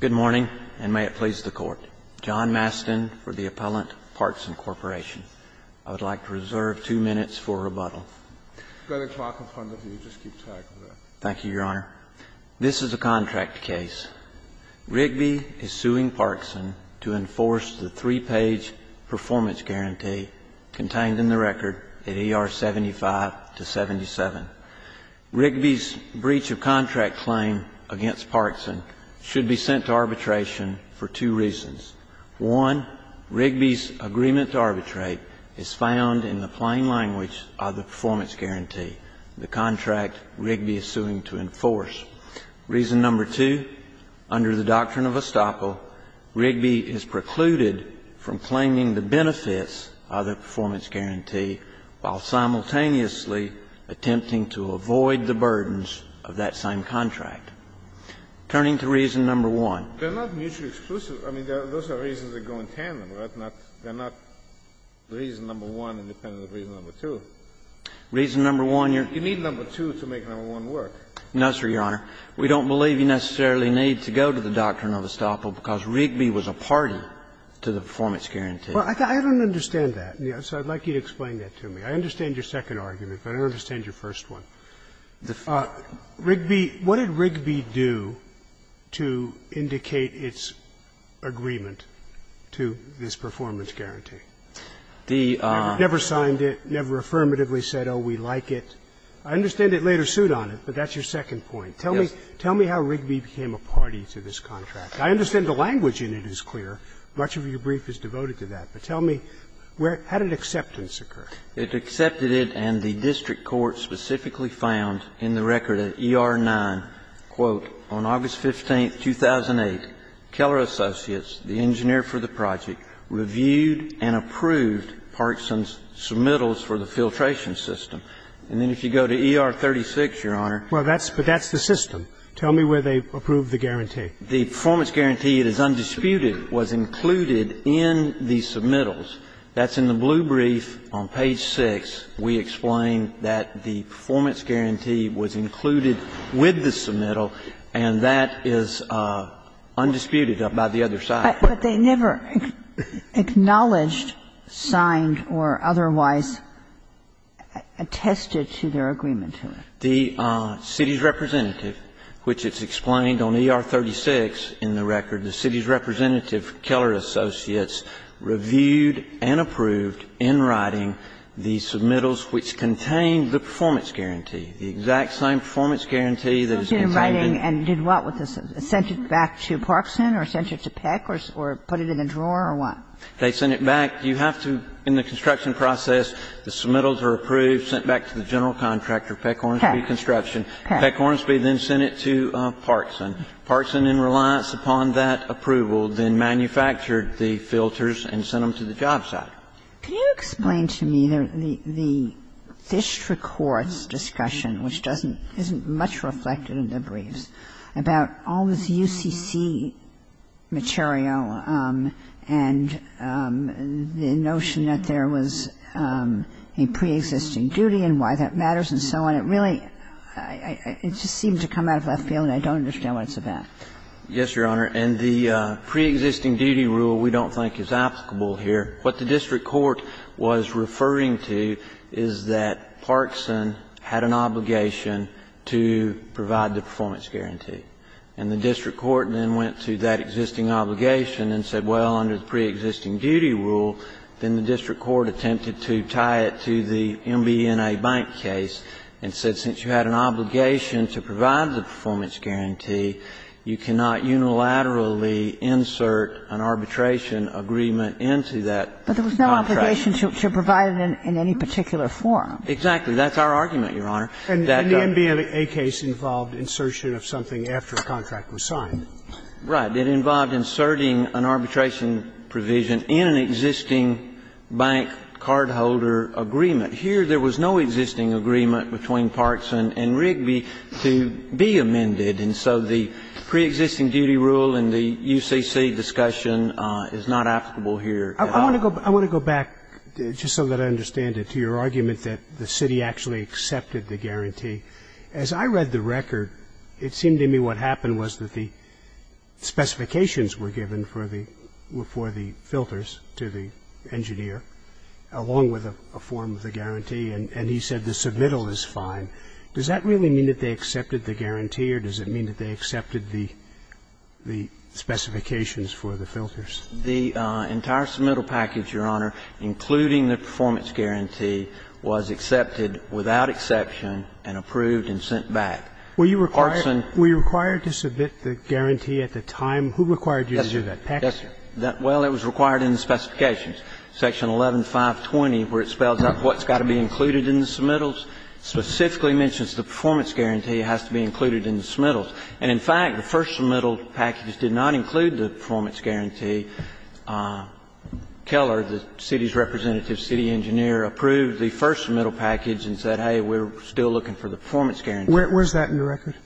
Good morning, and may it please the Court. John Mastin for the appellant, Parkson Corporation. I would like to reserve two minutes for rebuttal. Go to the clock in front of you, just keep track of that. Thank you, Your Honor. This is a contract case. Rigby is suing Parkson to enforce the three-page performance guarantee contained in the record at ER 75 to 77. Rigby's breach of contract claim against Parkson should be sent to arbitration for two reasons. One, Rigby's agreement to arbitrate is found in the plain language of the performance guarantee, the contract Rigby is suing to enforce. Reason number two, under the doctrine of estoppel, Rigby is precluded from claiming the benefits of the performance guarantee while simultaneously attempting to avoid the burdens of that same contract. Turning to reason number one. They're not mutually exclusive. I mean, those are reasons that go in tandem, right? They're not reason number one independent of reason number two. Reason number one, Your Honor. You need number two to make number one work. Necessary, Your Honor. We don't believe you necessarily need to go to the doctrine of estoppel, because Rigby was a party to the performance guarantee. I don't understand that, so I'd like you to explain that to me. I understand your second argument, but I don't understand your first one. Rigby, what did Rigby do to indicate its agreement to this performance guarantee? They never signed it, never affirmatively said, oh, we like it. I understand it later sued on it, but that's your second point. Tell me how Rigby became a party to this contract. I understand the language in it is clear. Much of your brief is devoted to that, but tell me how did acceptance occur? It accepted it and the district court specifically found in the record at ER 9, quote, on August 15th, 2008, Keller Associates, the engineer for the project, reviewed and approved Parkinson's submittals for the filtration system. And then if you go to ER 36, Your Honor. Well, that's the system. Tell me where they approved the guarantee. The performance guarantee, it is undisputed, was included in the submittals. That's in the blue brief on page 6. We explain that the performance guarantee was included with the submittal, and that is undisputed by the other side. But they never acknowledged, signed, or otherwise attested to their agreement to it. The city's representative, which is explained on ER 36 in the record, the city's representative, Keller Associates, reviewed and approved in writing the submittals which contained the performance guarantee, the exact same performance guarantee that is included. And did what with this? Sent it back to Parkinson or sent it to Peck or put it in a drawer or what? They sent it back. You have to, in the construction process, the submittals are approved, sent back to the general contractor, Peck Hornsby Construction. Peck Hornsby then sent it to Parkinson. Parkinson, in reliance upon that approval, then manufactured the filters and sent them to the job site. Can you explain to me the district court's discussion, which doesn't, isn't much reflected in the briefs, about all this UCC material and the notion that there was a pre-existing duty and why that matters and so on. It really, it just seemed to come out of left field and I don't understand what it's about. Yes, Your Honor. And the pre-existing duty rule we don't think is applicable here. What the district court was referring to is that Parkinson had an obligation to provide the performance guarantee. And the district court then went to that existing obligation and said, well, under the pre-existing duty rule, then the district court attempted to tie it to the MBNA bank case and said, since you had an obligation to provide the performance guarantee, you cannot unilaterally insert an arbitration agreement into that contract. But there was no obligation to provide it in any particular form. Exactly. That's our argument, Your Honor. And the MBNA case involved insertion of something after a contract was signed. Right. It involved inserting an arbitration provision in an existing bank cardholder agreement. Here there was no existing agreement between Parkinson and Rigby to be amended. And so the pre-existing duty rule in the UCC discussion is not applicable here. I want to go back, just so that I understand it, to your argument that the city actually accepted the guarantee. As I read the record, it seemed to me what happened was that the specifications were given for the filters to the engineer, along with a form of the guarantee, and he said the submittal is fine. Does that really mean that they accepted the guarantee, or does it mean that they accepted the specifications for the filters? The entire submittal package, Your Honor, including the performance guarantee, was accepted without exception and approved and sent back. Were you required to submit the guarantee at the time? Who required you to do that? Paxton. Well, it was required in the specifications, section 11-520, where it spells out what's got to be included in the submittals. It specifically mentions the performance guarantee has to be included in the submittals. And in fact, the first submittal package did not include the performance guarantee. In fact, the first submittal package did not include the performance guarantee. And it's undisputed that the district court found that Keller, the city's representative, city engineer, approved the first submittal package and said, hey, we're still looking for the performance guarantee. Where's that in the record?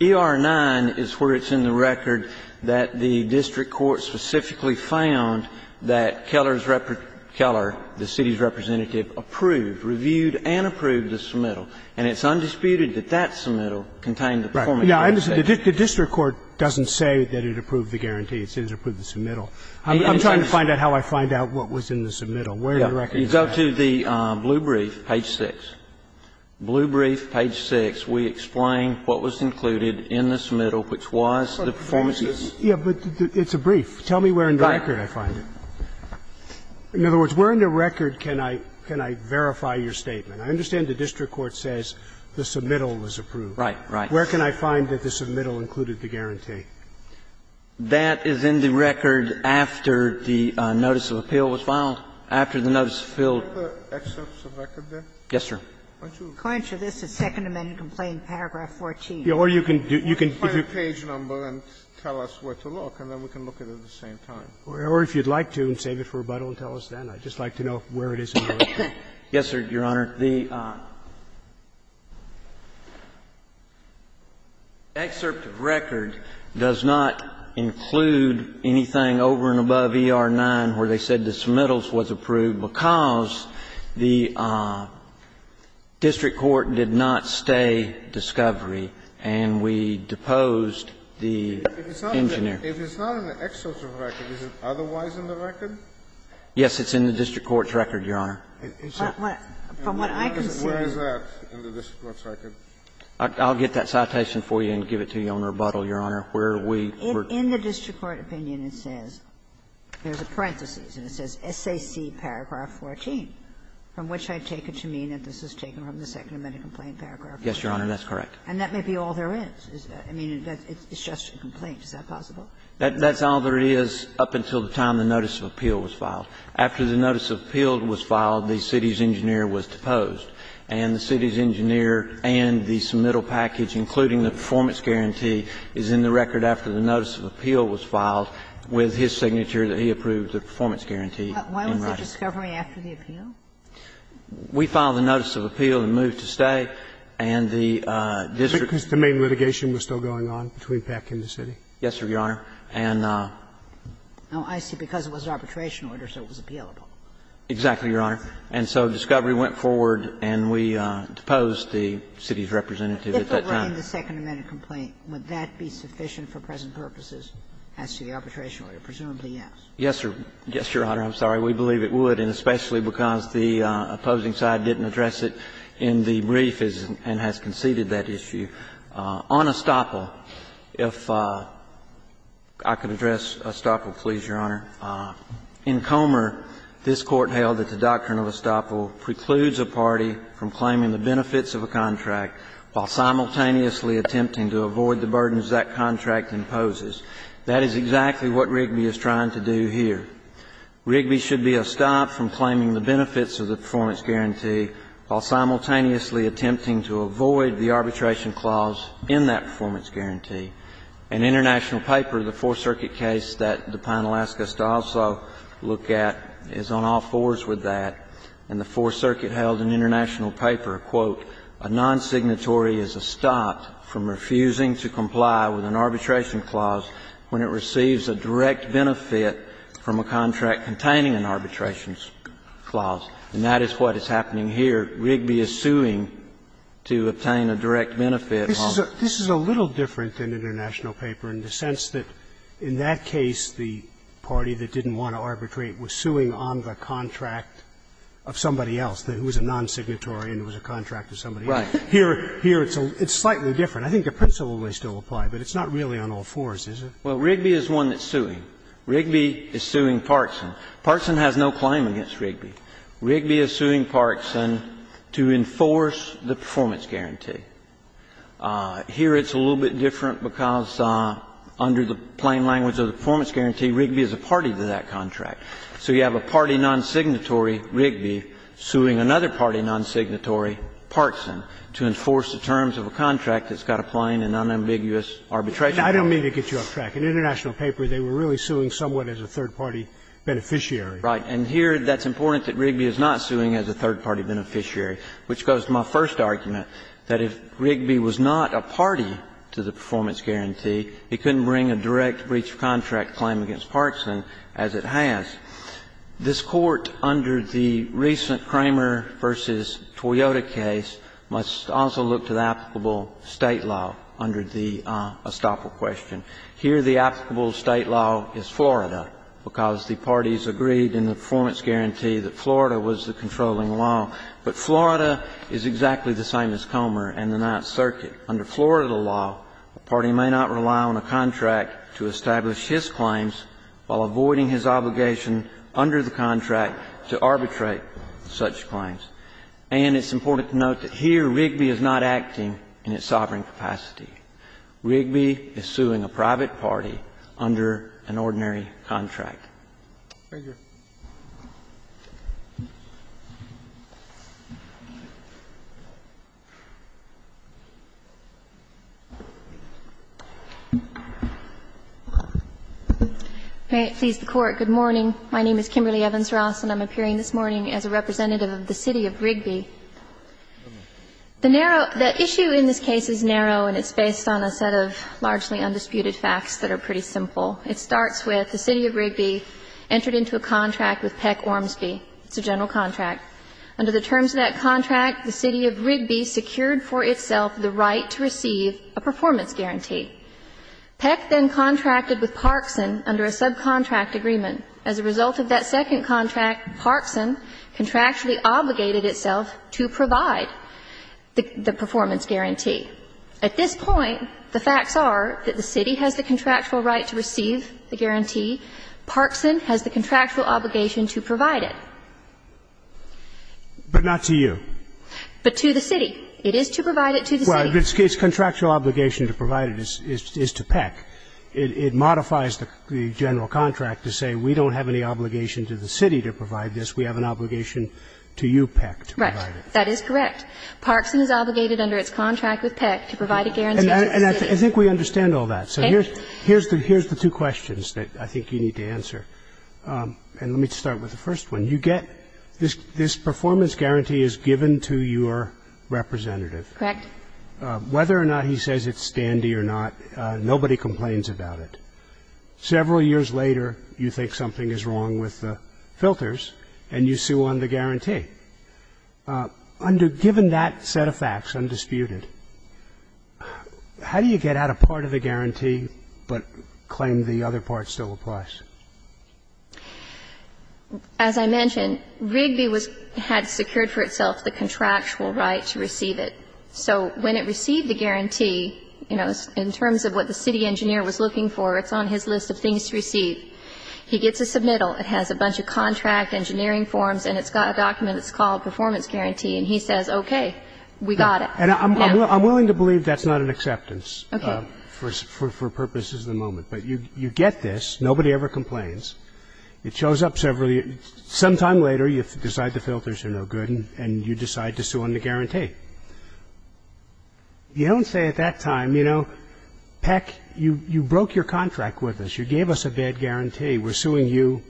ER-9 is where it's in the record that the district court specifically found that Keller's in the submittal. And it's undisputed that that submittal contained the performance guarantee. Now, the district court doesn't say that it approved the guarantee. It says it approved the submittal. I'm trying to find out how I find out what was in the submittal. Where in the record is that? You go to the blue brief, page 6. Blue brief, page 6, we explain what was included in the submittal, which was the performance guarantee. Yeah, but it's a brief. Tell me where in the record I find it. In other words, where in the record can I verify your statement? I understand the district court says the submittal was approved. Right, right. Where can I find that the submittal included the guarantee? That is in the record after the notice of appeal was filed, after the notice was filled. Are there other excerpts of record there? Yes, sir. Why don't you look at it? This is Second Amendment complaint, paragraph 14. Or you can do you can do. You can find a page number and tell us where to look, and then we can look at it at the same time. Or if you'd like to, and save it for rebuttal and tell us then. I'd just like to know where it is in the record. Yes, sir, Your Honor. The excerpt of record does not include anything over and above ER-9 where they said the submittals was approved, because the district court did not stay discovery, and we deposed the engineer. If it's not in the excerpt of record, is it otherwise in the record? Yes, it's in the district court's record, Your Honor. From what I can see Where is that in the district court's record? I'll get that citation for you and give it to you on rebuttal, Your Honor. Where we were In the district court opinion, it says, there's a parenthesis, and it says, SAC paragraph 14, from which I take it to mean that this is taken from the Second Amendment complaint paragraph 14. Yes, Your Honor, that's correct. And that may be all there is. I mean, it's just a complaint. Is that possible? That's all there is up until the time the notice of appeal was filed. After the notice of appeal was filed, the city's engineer was deposed, and the city's engineer and the submittal package, including the performance guarantee, is in the record after the notice of appeal was filed with his signature that he approved the performance guarantee in writing. But why was there discovery after the appeal? We filed the notice of appeal and moved to stay, and the district court Because the main litigation was still going on between Pack and the city. Yes, Your Honor. And No, I see. Because it was an arbitration order, so it was appealable. Exactly, Your Honor. And so discovery went forward, and we deposed the city's representative at that time. If it were in the Second Amendment complaint, would that be sufficient for present purposes as to the arbitration order? Presumably, yes. Yes, Your Honor. I'm sorry. We believe it would, and especially because the opposing side didn't address it in the brief and has conceded that issue. On estoppel, if I could address estoppel, please, Your Honor. In Comer, this Court held that the doctrine of estoppel precludes a party from claiming the benefits of a contract while simultaneously attempting to avoid the burdens that contract imposes. That is exactly what Rigby is trying to do here. Rigby should be estopped from claiming the benefits of the performance guarantee while simultaneously attempting to avoid the arbitration clause in that performance guarantee. An international paper, the Fourth Circuit case that the panel asked us to also look at, is on all fours with that. And the Fourth Circuit held an international paper, quote, A non-signatory is estopped from refusing to comply with an arbitration clause when it receives a direct benefit from a contract containing an arbitration clause. And that is what is happening here. Rigby is suing to obtain a direct benefit. Roberts. This is a little different than an international paper in the sense that in that case the party that didn't want to arbitrate was suing on the contract of somebody else, who was a non-signatory and who was a contract to somebody else. Right. Here, it's slightly different. I think the principle may still apply, but it's not really on all fours, is it? Well, Rigby is one that's suing. Rigby is suing Parkson. Parkson has no claim against Rigby. Rigby is suing Parkson to enforce the performance guarantee. Here, it's a little bit different because under the plain language of the performance guarantee, Rigby is a party to that contract. So you have a party non-signatory, Rigby, suing another party non-signatory, Parkson, to enforce the terms of a contract that's got a plain and unambiguous arbitration clause. I don't mean to get you off track. In the international paper, they were really suing someone as a third party beneficiary. Right. And here, that's important that Rigby is not suing as a third party beneficiary, which goes to my first argument, that if Rigby was not a party to the performance guarantee, it couldn't bring a direct breach of contract claim against Parkson as it has. This Court, under the recent Kramer v. Toyota case, must also look to the applicable State law under the estoppel question. Here, the applicable State law is Florida because the parties agreed in the performance guarantee that Florida was the controlling law. But Florida is exactly the same as Kramer and the Ninth Circuit. Under Florida law, a party may not rely on a contract to establish his claims while avoiding his obligation under the contract to arbitrate such claims. And it's important to note that here Rigby is not acting in its sovereign capacity. Rigby is suing a private party under an ordinary contract. Thank you. Kimberly Evans Ross. And I'm appearing this morning as a representative of the city of Rigby. The issue in this case is narrow and it's based on a set of largely undisputed facts that are pretty simple. It starts with the city of Rigby entered into a contract with Peck Ormsby. It's a general contract. Under the terms of that contract, the city of Rigby secured for itself the right to receive a performance guarantee. Peck then contracted with Parkson under a subcontract agreement. Under the subcontract agreement, the city of Rigby has the contractual right to receive a performance guarantee. As a result of that second contract, Parkson contractually obligated itself to provide the performance guarantee. At this point, the facts are that the city has the contractual right to receive the guarantee. Parkson has the contractual obligation to provide it. But not to you. But to the city. It is to provide it to the city. Its contractual obligation to provide it is to Peck. It modifies the general contract to say we don't have any obligation to the city to provide this. We have an obligation to you, Peck, to provide it. Right. That is correct. Parkson is obligated under its contract with Peck to provide a guarantee to the city. And I think we understand all that. So here's the two questions that I think you need to answer. And let me start with the first one. You get this performance guarantee is given to your representative. Correct. Whether or not he says it's dandy or not, nobody complains about it. Several years later, you think something is wrong with the filters and you sue on the guarantee. Under the given that set of facts, undisputed, how do you get out a part of the guarantee but claim the other part still applies? As I mentioned, Rigby was had secured for itself the contractual right to receive it. So when it received the guarantee, you know, in terms of what the city engineer was looking for, it's on his list of things to receive. He gets a submittal. It has a bunch of contract engineering forms and it's got a document that's called performance guarantee. And he says, okay, we got it. And I'm willing to believe that's not an acceptance for purposes of the moment. But you get this. Nobody ever complains. It shows up several years later. Some time later, you decide the filters are no good and you decide to sue on the guarantee. You don't say at that time, you know, Peck, you broke your contract with us. You gave us a bad guarantee. We're suing you.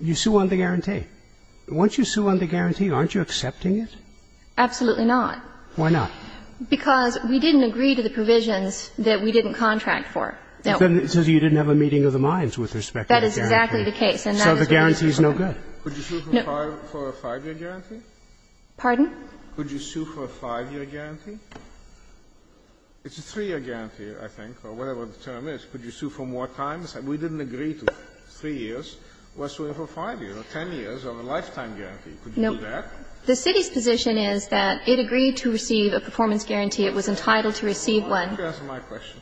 You sue on the guarantee. Once you sue on the guarantee, aren't you accepting it? Absolutely not. Why not? Because we didn't agree to the provisions that we didn't contract for. Then it says you didn't have a meeting of the minds with respect to that guarantee. That is exactly the case. So the guarantee is no good. Could you sue for a 5-year guarantee? Pardon? Could you sue for a 5-year guarantee? It's a 3-year guarantee, I think, or whatever the term is. Could you sue for more time? We didn't agree to 3 years. We're suing for 5 years or 10 years or a lifetime guarantee. Could you do that? No. The city's position is that it agreed to receive a performance guarantee. It was entitled to receive one. Why don't you answer my question?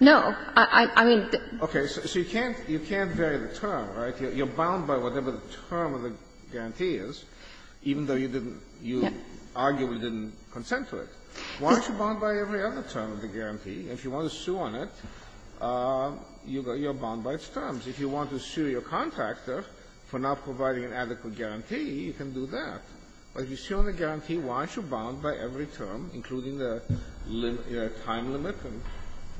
No. I mean, the ---- Okay. So you can't vary the term, right? You're bound by whatever the term of the guarantee is, even though you didn't You arguably didn't consent to it. Why aren't you bound by every other term of the guarantee? If you want to sue on it, you're bound by its terms. If you want to sue your contractor for not providing an adequate guarantee, you can do that. But if you sue on the guarantee, why aren't you bound by every term, including the time limit and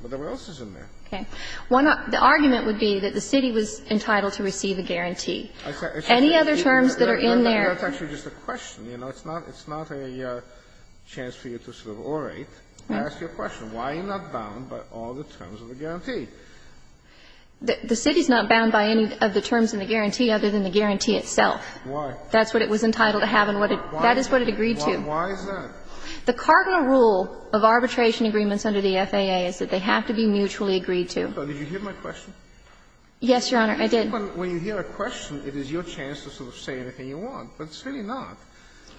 whatever else is in there? Okay. The argument would be that the city was entitled to receive a guarantee. Any other terms that are in there ---- That's actually just a question. You know, it's not a chance for you to sort of orate. I ask you a question. Why are you not bound by all the terms of the guarantee? The city's not bound by any of the terms in the guarantee other than the guarantee itself. Why? That's what it was entitled to have and what it ---- Why? That is what it agreed to. Why is that? The cardinal rule of arbitration agreements under the FAA is that they have to be mutually agreed to. Did you hear my question? Yes, Your Honor, I did. When you hear a question, it is your chance to sort of say anything you want. But it's really not.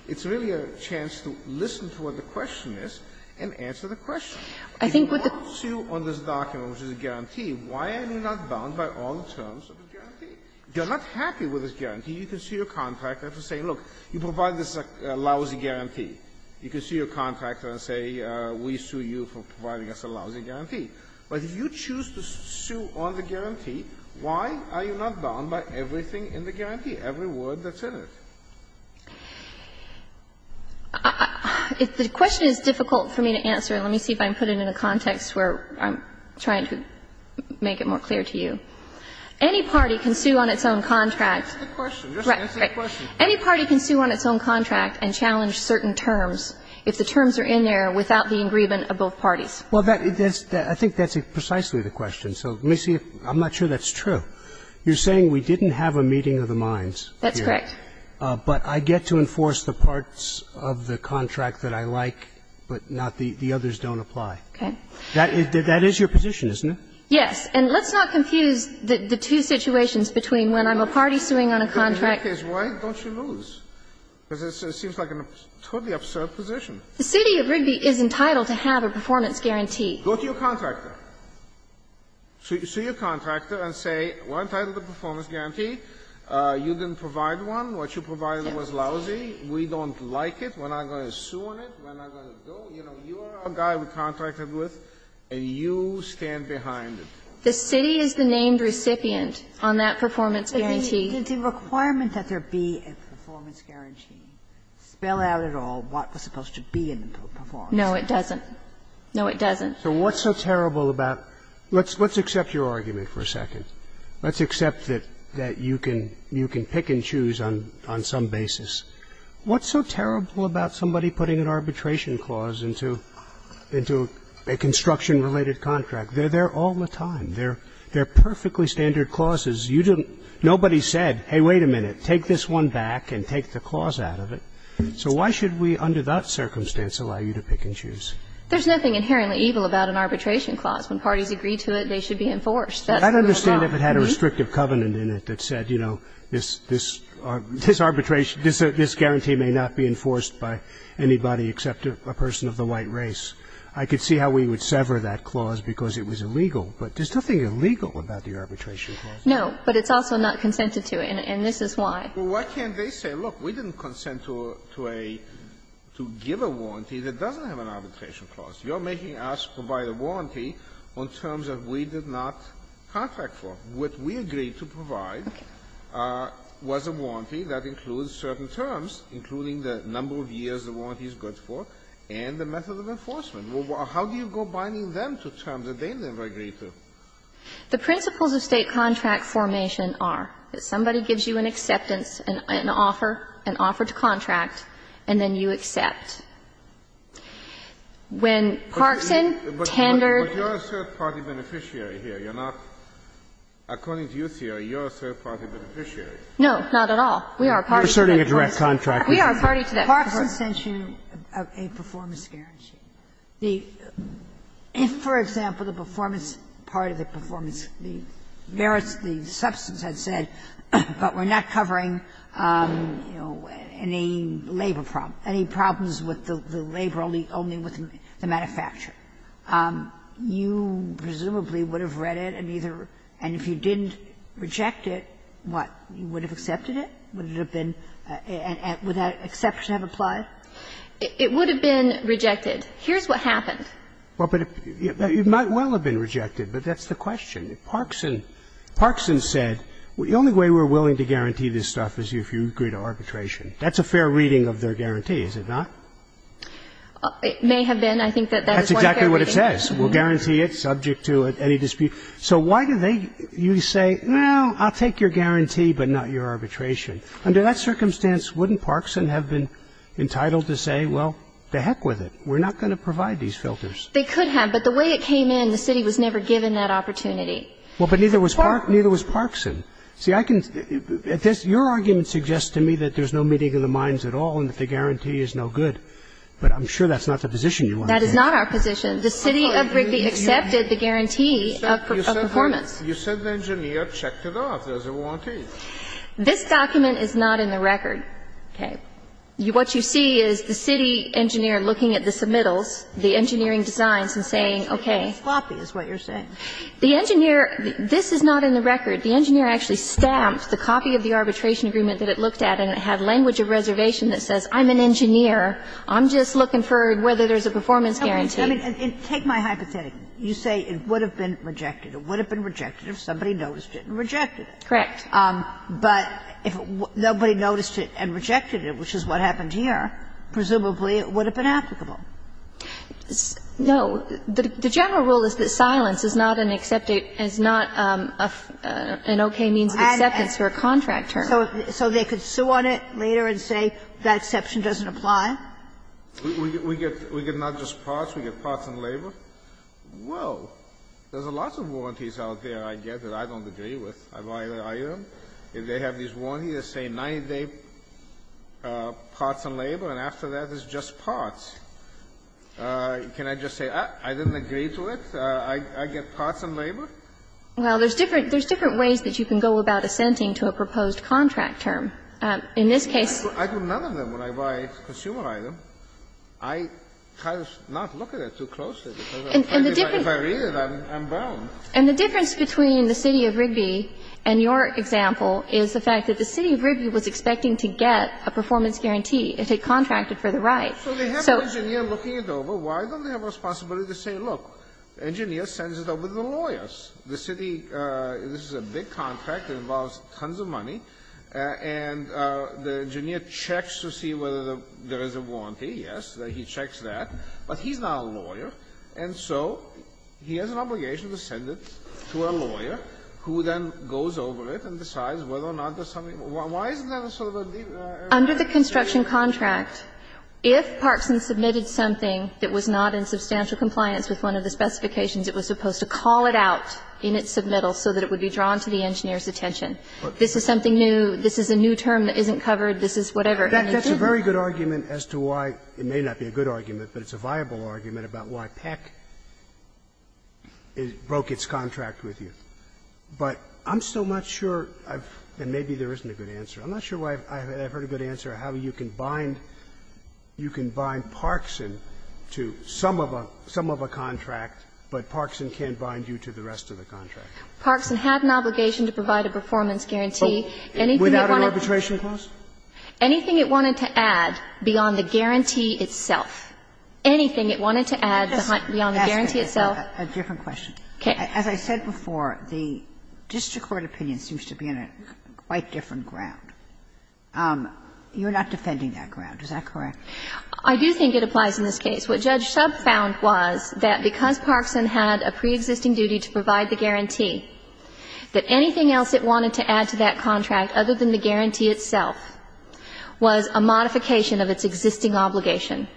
It's really a chance to listen to what the question is and answer the question. If you want to sue on this document, which is a guarantee, why are you not bound by all the terms of the guarantee? You're not happy with this guarantee. You can sue your contractor for saying, look, you provide this lousy guarantee. You can sue your contractor and say, we sue you for providing us a lousy guarantee. But if you choose to sue on the guarantee, why are you not bound by everything in the guarantee, every word that's in it? If the question is difficult for me to answer, let me see if I can put it in a context where I'm trying to make it more clear to you. Any party can sue on its own contract. Any party can sue on its own contract and challenge certain terms if the terms are in there without the agreement of both parties. Well, I think that's precisely the question. So let me see if you're saying we didn't have a meeting of the minds. That's correct. But I get to enforce the parts of the contract that I like, but not the others don't apply. Okay. That is your position, isn't it? Yes. And let's not confuse the two situations between when I'm a party suing on a contract and when I'm not. Why don't you lose? Because it seems like a totally absurd position. The city of Rigby is entitled to have a performance guarantee. Go to your contractor. Sue your contractor and say, we're entitled to a performance guarantee. You didn't provide one. What you provided was lousy. We don't like it. We're not going to sue on it. We're not going to go. You know, you are our guy we contracted with, and you stand behind it. The city is the named recipient on that performance guarantee. But the requirement that there be a performance guarantee spell out at all what was supposed to be in the performance guarantee. No, it doesn't. No, it doesn't. So what's so terrible about – let's accept your argument for a second. Let's accept that you can pick and choose on some basis. What's so terrible about somebody putting an arbitration clause into a construction-related contract? They're there all the time. They're perfectly standard clauses. You didn't – nobody said, hey, wait a minute, take this one back and take the clause out of it. So why should we, under that circumstance, allow you to pick and choose? There's nothing inherently evil about an arbitration clause. When parties agree to it, they should be enforced. That's the law. Scalia. I'd understand if it had a restrictive covenant in it that said, you know, this arbitration – this guarantee may not be enforced by anybody except a person of the white race. I could see how we would sever that clause because it was illegal. But there's nothing illegal about the arbitration clause. No. But it's also not consented to, and this is why. Well, why can't they say, look, we didn't consent to a – to give a warranty that doesn't have an arbitration clause. You're making us provide a warranty on terms that we did not contract for. What we agreed to provide was a warranty that includes certain terms, including the number of years the warranty is good for and the method of enforcement. Well, how do you go binding them to terms that they never agreed to? The principles of State contract formation are that somebody gives you an acceptance and an offer, an offer to contract, and then you accept. When Parkson tendered the contract to you, you said you were a third-party beneficiary here. You're not – according to your theory, you're a third-party beneficiary. No, not at all. We are a party to that contract. We are a party to that contract. Parkson sent you a performance guarantee. The – if, for example, the performance, part of the performance, the merits, the substance had said, but we're not covering, you know, any labor problem, any problems with the labor only with the manufacturer, you presumably would have read it and either – and if you didn't reject it, what, you would have accepted it? Would it have been – would that exception have applied? It would have been rejected. Here's what happened. Well, but it might well have been rejected, but that's the question. Parkson said, the only way we're willing to guarantee this stuff is if you agree to arbitration. That's a fair reading of their guarantee, is it not? It may have been. I think that that is one fair reading. That's exactly what it says. We'll guarantee it subject to any dispute. So why do they – you say, well, I'll take your guarantee, but not your arbitration. Under that circumstance, wouldn't Parkson have been entitled to say, well, to heck with it, we're not going to provide these filters? They could have, but the way it came in, the city was never given that opportunity. Well, but neither was Park – neither was Parkson. See, I can – your argument suggests to me that there's no meeting of the minds at all and that the guarantee is no good, but I'm sure that's not the position you want to take. That is not our position. The city of Rigby accepted the guarantee of performance. You said the engineer checked it off as a warranty. This document is not in the record, okay? What you see is the city engineer looking at the submittals, the engineering designs and saying, okay. Floppy is what you're saying. The engineer – this is not in the record. The engineer actually stamped the copy of the arbitration agreement that it looked at and it had language of reservation that says, I'm an engineer. I'm just looking for whether there's a performance guarantee. I mean, take my hypothetical. You say it would have been rejected. It would have been rejected if somebody noticed it and rejected it. Correct. But if nobody noticed it and rejected it, which is what happened here, presumably it would have been applicable. No. The general rule is that silence is not an accepted – is not an okay means of acceptance for a contract term. So they could sue on it later and say that exception doesn't apply? We get not just parts. We get parts and labor. Whoa. There's lots of warranties out there, I guess, that I don't agree with. I've already argued them. If they have these warranties that say 90-day parts and labor, and after that it's just parts. Can I just say I didn't agree to it? I get parts and labor? Well, there's different ways that you can go about assenting to a proposed contract term. In this case – I do none of them when I buy a consumer item. I try to not look at it too closely, because if I read it, I'm bound. And the difference between the city of Rigby and your example is the fact that the city of Rigby was expecting to get a performance guarantee. It had contracted for the right. So they have an engineer looking it over. Why don't they have a responsibility to say, look, the engineer sends it over to the lawyers? The city – this is a big contract. It involves tons of money. And the engineer checks to see whether there is a warranty. Yes, he checks that. But he's not a lawyer, and so he has an obligation to send it to a lawyer, who then goes over it and decides whether or not there's something – why isn't that a sort of a – Under the construction contract, if Parkson submitted something that was not in substantial compliance with one of the specifications, it was supposed to call it out in its submittal so that it would be drawn to the engineer's attention. This is something new. This is a new term that isn't covered. This is whatever. And it didn't. That's a very good argument as to why – it may not be a good argument, but it's a viable argument about why Peck broke its contract with you. But I'm still not sure I've – and maybe there isn't a good answer. I'm not sure why I've heard a good answer on how you can bind – you can bind Parkson to some of a – some of a contract, but Parkson can't bind you to the rest of the contract. Parkson had an obligation to provide a performance guarantee. Anything it wanted to add beyond the guarantee itself. Anything it wanted to add beyond the guarantee itself. As I said before, the district court opinion seems to be on a quite different ground. You're not defending that ground. Is that correct? I do think it applies in this case. What Judge Shub found was that because Parkson had a preexisting duty to provide the guarantee, that anything else it wanted to add to that contract other than the guarantee itself was a modification of its existing obligation.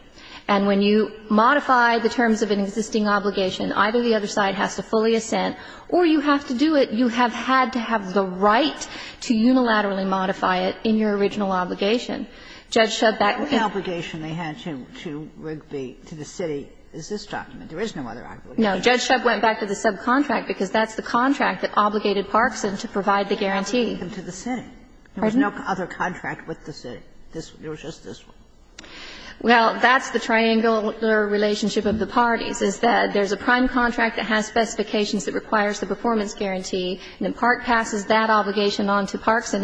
And when you modify the terms of an existing obligation, either the other side has to fully assent or you have to do it – you have had to have the right to unilaterally modify it in your original obligation. Judge Shub back – The only obligation they had to Rigby, to the city, is this document. There is no other obligation. No. Judge Shub went back to the subcontract, because that's the contract that obligated Parkson to provide the guarantee. And to the city. Pardon? There was no other contract with the city. This – it was just this one. Well, that's the triangular relationship of the parties, is that there's a prime contract that has specifications that requires the performance guarantee, and then there's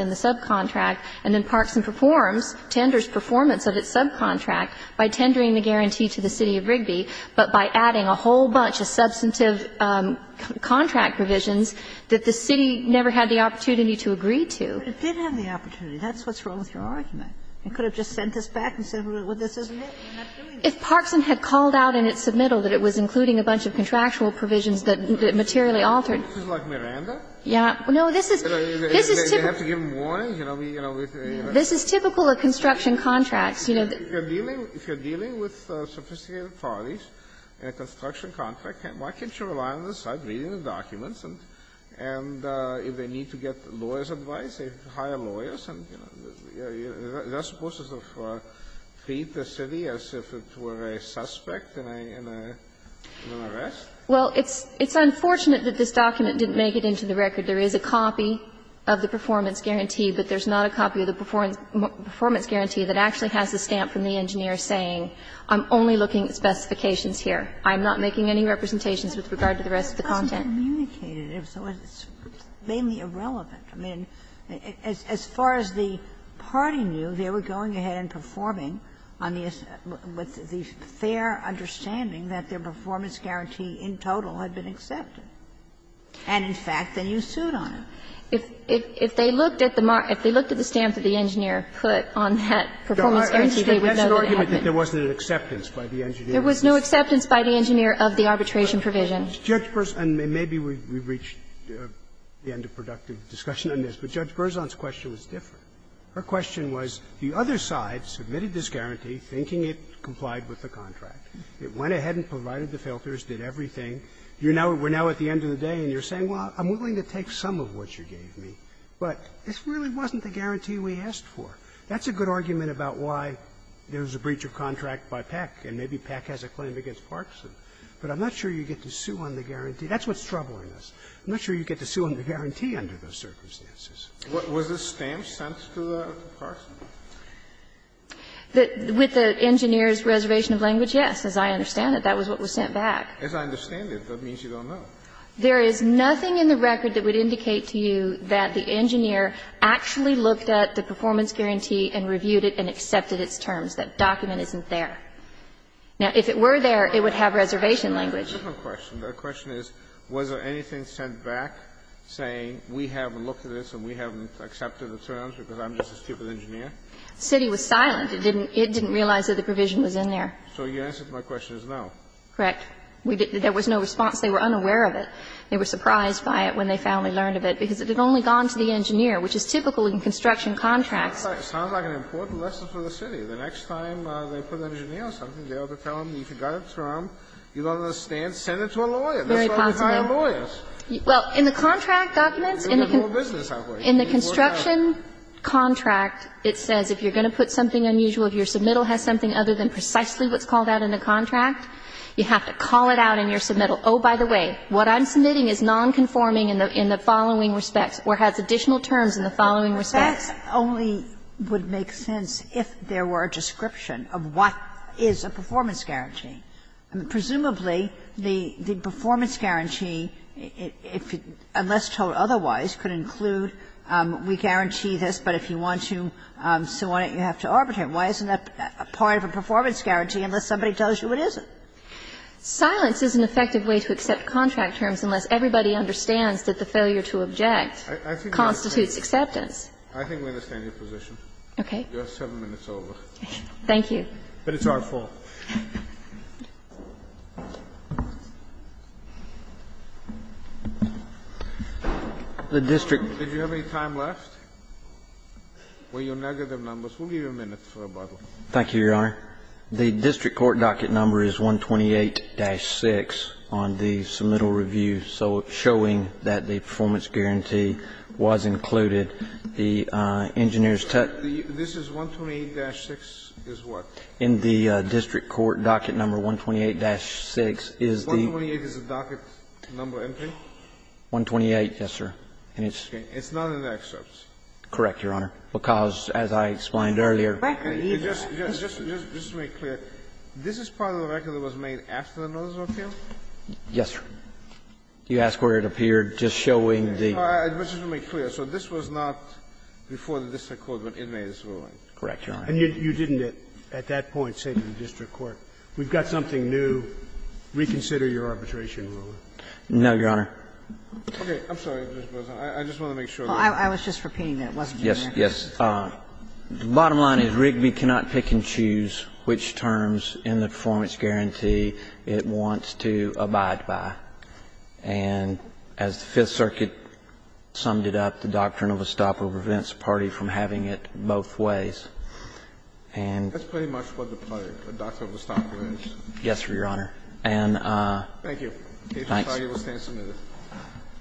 a subcontract, and then Parkson performs, tenders performance of its subcontract by tendering the guarantee to the city of Rigby, but by adding a whole bunch of substantive contract provisions that the city never had the opportunity to agree to. But it did have the opportunity. That's what's wrong with your argument. You could have just sent this back and said, well, this isn't it, we're not doing it. If Parkson had called out in its submittal that it was including a bunch of contractual provisions that materially altered – This is like Miranda? Yeah. No, this is – this is typical. We have to give them warning, you know, we – you know, with a – This is typical of construction contracts. You know, the – If you're dealing – if you're dealing with sophisticated parties in a construction contract, why can't you rely on the site, read the documents, and if they need to get lawyer's advice, hire lawyers and, you know, that's supposed to sort of treat the city as if it were a suspect in a – in an arrest? Well, it's – it's unfortunate that this document didn't make it into the record. There is a copy of the performance guarantee, but there's not a copy of the performance guarantee that actually has the stamp from the engineer saying, I'm only looking at specifications here. I'm not making any representations with regard to the rest of the content. But Parkson communicated it, so it's mainly irrelevant. I mean, as far as the party knew, they were going ahead and performing on the – with the fair understanding that their performance guarantee in total had been accepted. And in fact, then you sued on it. If they looked at the mark – if they looked at the stamp that the engineer put on that performance guarantee, they would know that it happened. There was no acceptance by the engineer of the arbitration provision. And maybe we've reached the end of productive discussion on this, but Judge Berzon's question was different. Her question was, the other side submitted this guarantee thinking it complied with the contract. It went ahead and provided the filters, did everything. You're now – we're now at the end of the day and you're saying, well, I'm willing to take some of what you gave me, but this really wasn't the guarantee we asked for. That's a good argument about why there was a breach of contract by Peck, and maybe Peck has a claim against Parkson. But I'm not sure you get to sue on the guarantee. That's what's troubling us. I'm not sure you get to sue on the guarantee under those circumstances. Kennedy. What was the stamp sent to the person? With the engineer's reservation of language, yes, as I understand it, that was what was sent back. As I understand it, that means you don't know. There is nothing in the record that would indicate to you that the engineer actually looked at the performance guarantee and reviewed it and accepted its terms. That document isn't there. Now, if it were there, it would have reservation language. That's a different question. The question is, was there anything sent back saying, we haven't looked at this and we haven't accepted the terms because I'm just a stupid engineer? The city was silent. It didn't realize that the provision was in there. So your answer to my question is no. Correct. There was no response. They were unaware of it. They were surprised by it when they finally learned of it, because it had only gone to the engineer, which is typical in construction contracts. It sounds like an important lesson for the city. The next time they put an engineer on something, they ought to tell them, you forgot it's wrong. You don't understand, send it to a lawyer. That's why we hire lawyers. Well, in the contract documents, in the construction contract, it says if you're going to put something unusual, if your submittal has something other than precisely what's called out in the contract, you have to call it out in your submittal. Oh, by the way, what I'm submitting is nonconforming in the following respects or has additional terms in the following respects. That only would make sense if there were a description of what is a performance guarantee. Presumably, the performance guarantee, unless told otherwise, could include we guarantee this, but if you want to so on it, you have to arbitrate. And why isn't that part of a performance guarantee unless somebody tells you it isn't? Silence is an effective way to accept contract terms unless everybody understands that the failure to object constitutes acceptance. I think we understand your position. Okay. Your seven minutes are over. Thank you. But it's our fault. The district. Did you have any time left? Were your negative numbers? We'll give you a minute for rebuttal. Thank you, Your Honor. The district court docket number is 128-6 on the submittal review, so showing that the performance guarantee was included. The engineer's tech. This is 128-6 is what? In the district court docket number 128-6 is the. 128 is the docket number, isn't it? 128, yes, sir. And it's. It's not in the excerpts. Correct, Your Honor. Because, as I explained earlier. Just to make clear, this is part of the record that was made after the notice of appeal? Yes, sir. You ask where it appeared, just showing the. Just to make clear, so this was not before the district court when it made its ruling? Correct, Your Honor. And you didn't at that point say to the district court, we've got something new, reconsider your arbitration rule? No, Your Honor. Okay. I'm sorry, Justice Breyer. I just want to make sure. I was just repeating that. Yes, yes. The bottom line is Rigby cannot pick and choose which terms in the performance guarantee it wants to abide by. And as the Fifth Circuit summed it up, the doctrine of a stopper prevents a party from having it both ways. And. That's pretty much what the doctrine of a stopper is. Yes, Your Honor. And. Thank you. Thanks. Mr. Target will stand submitted.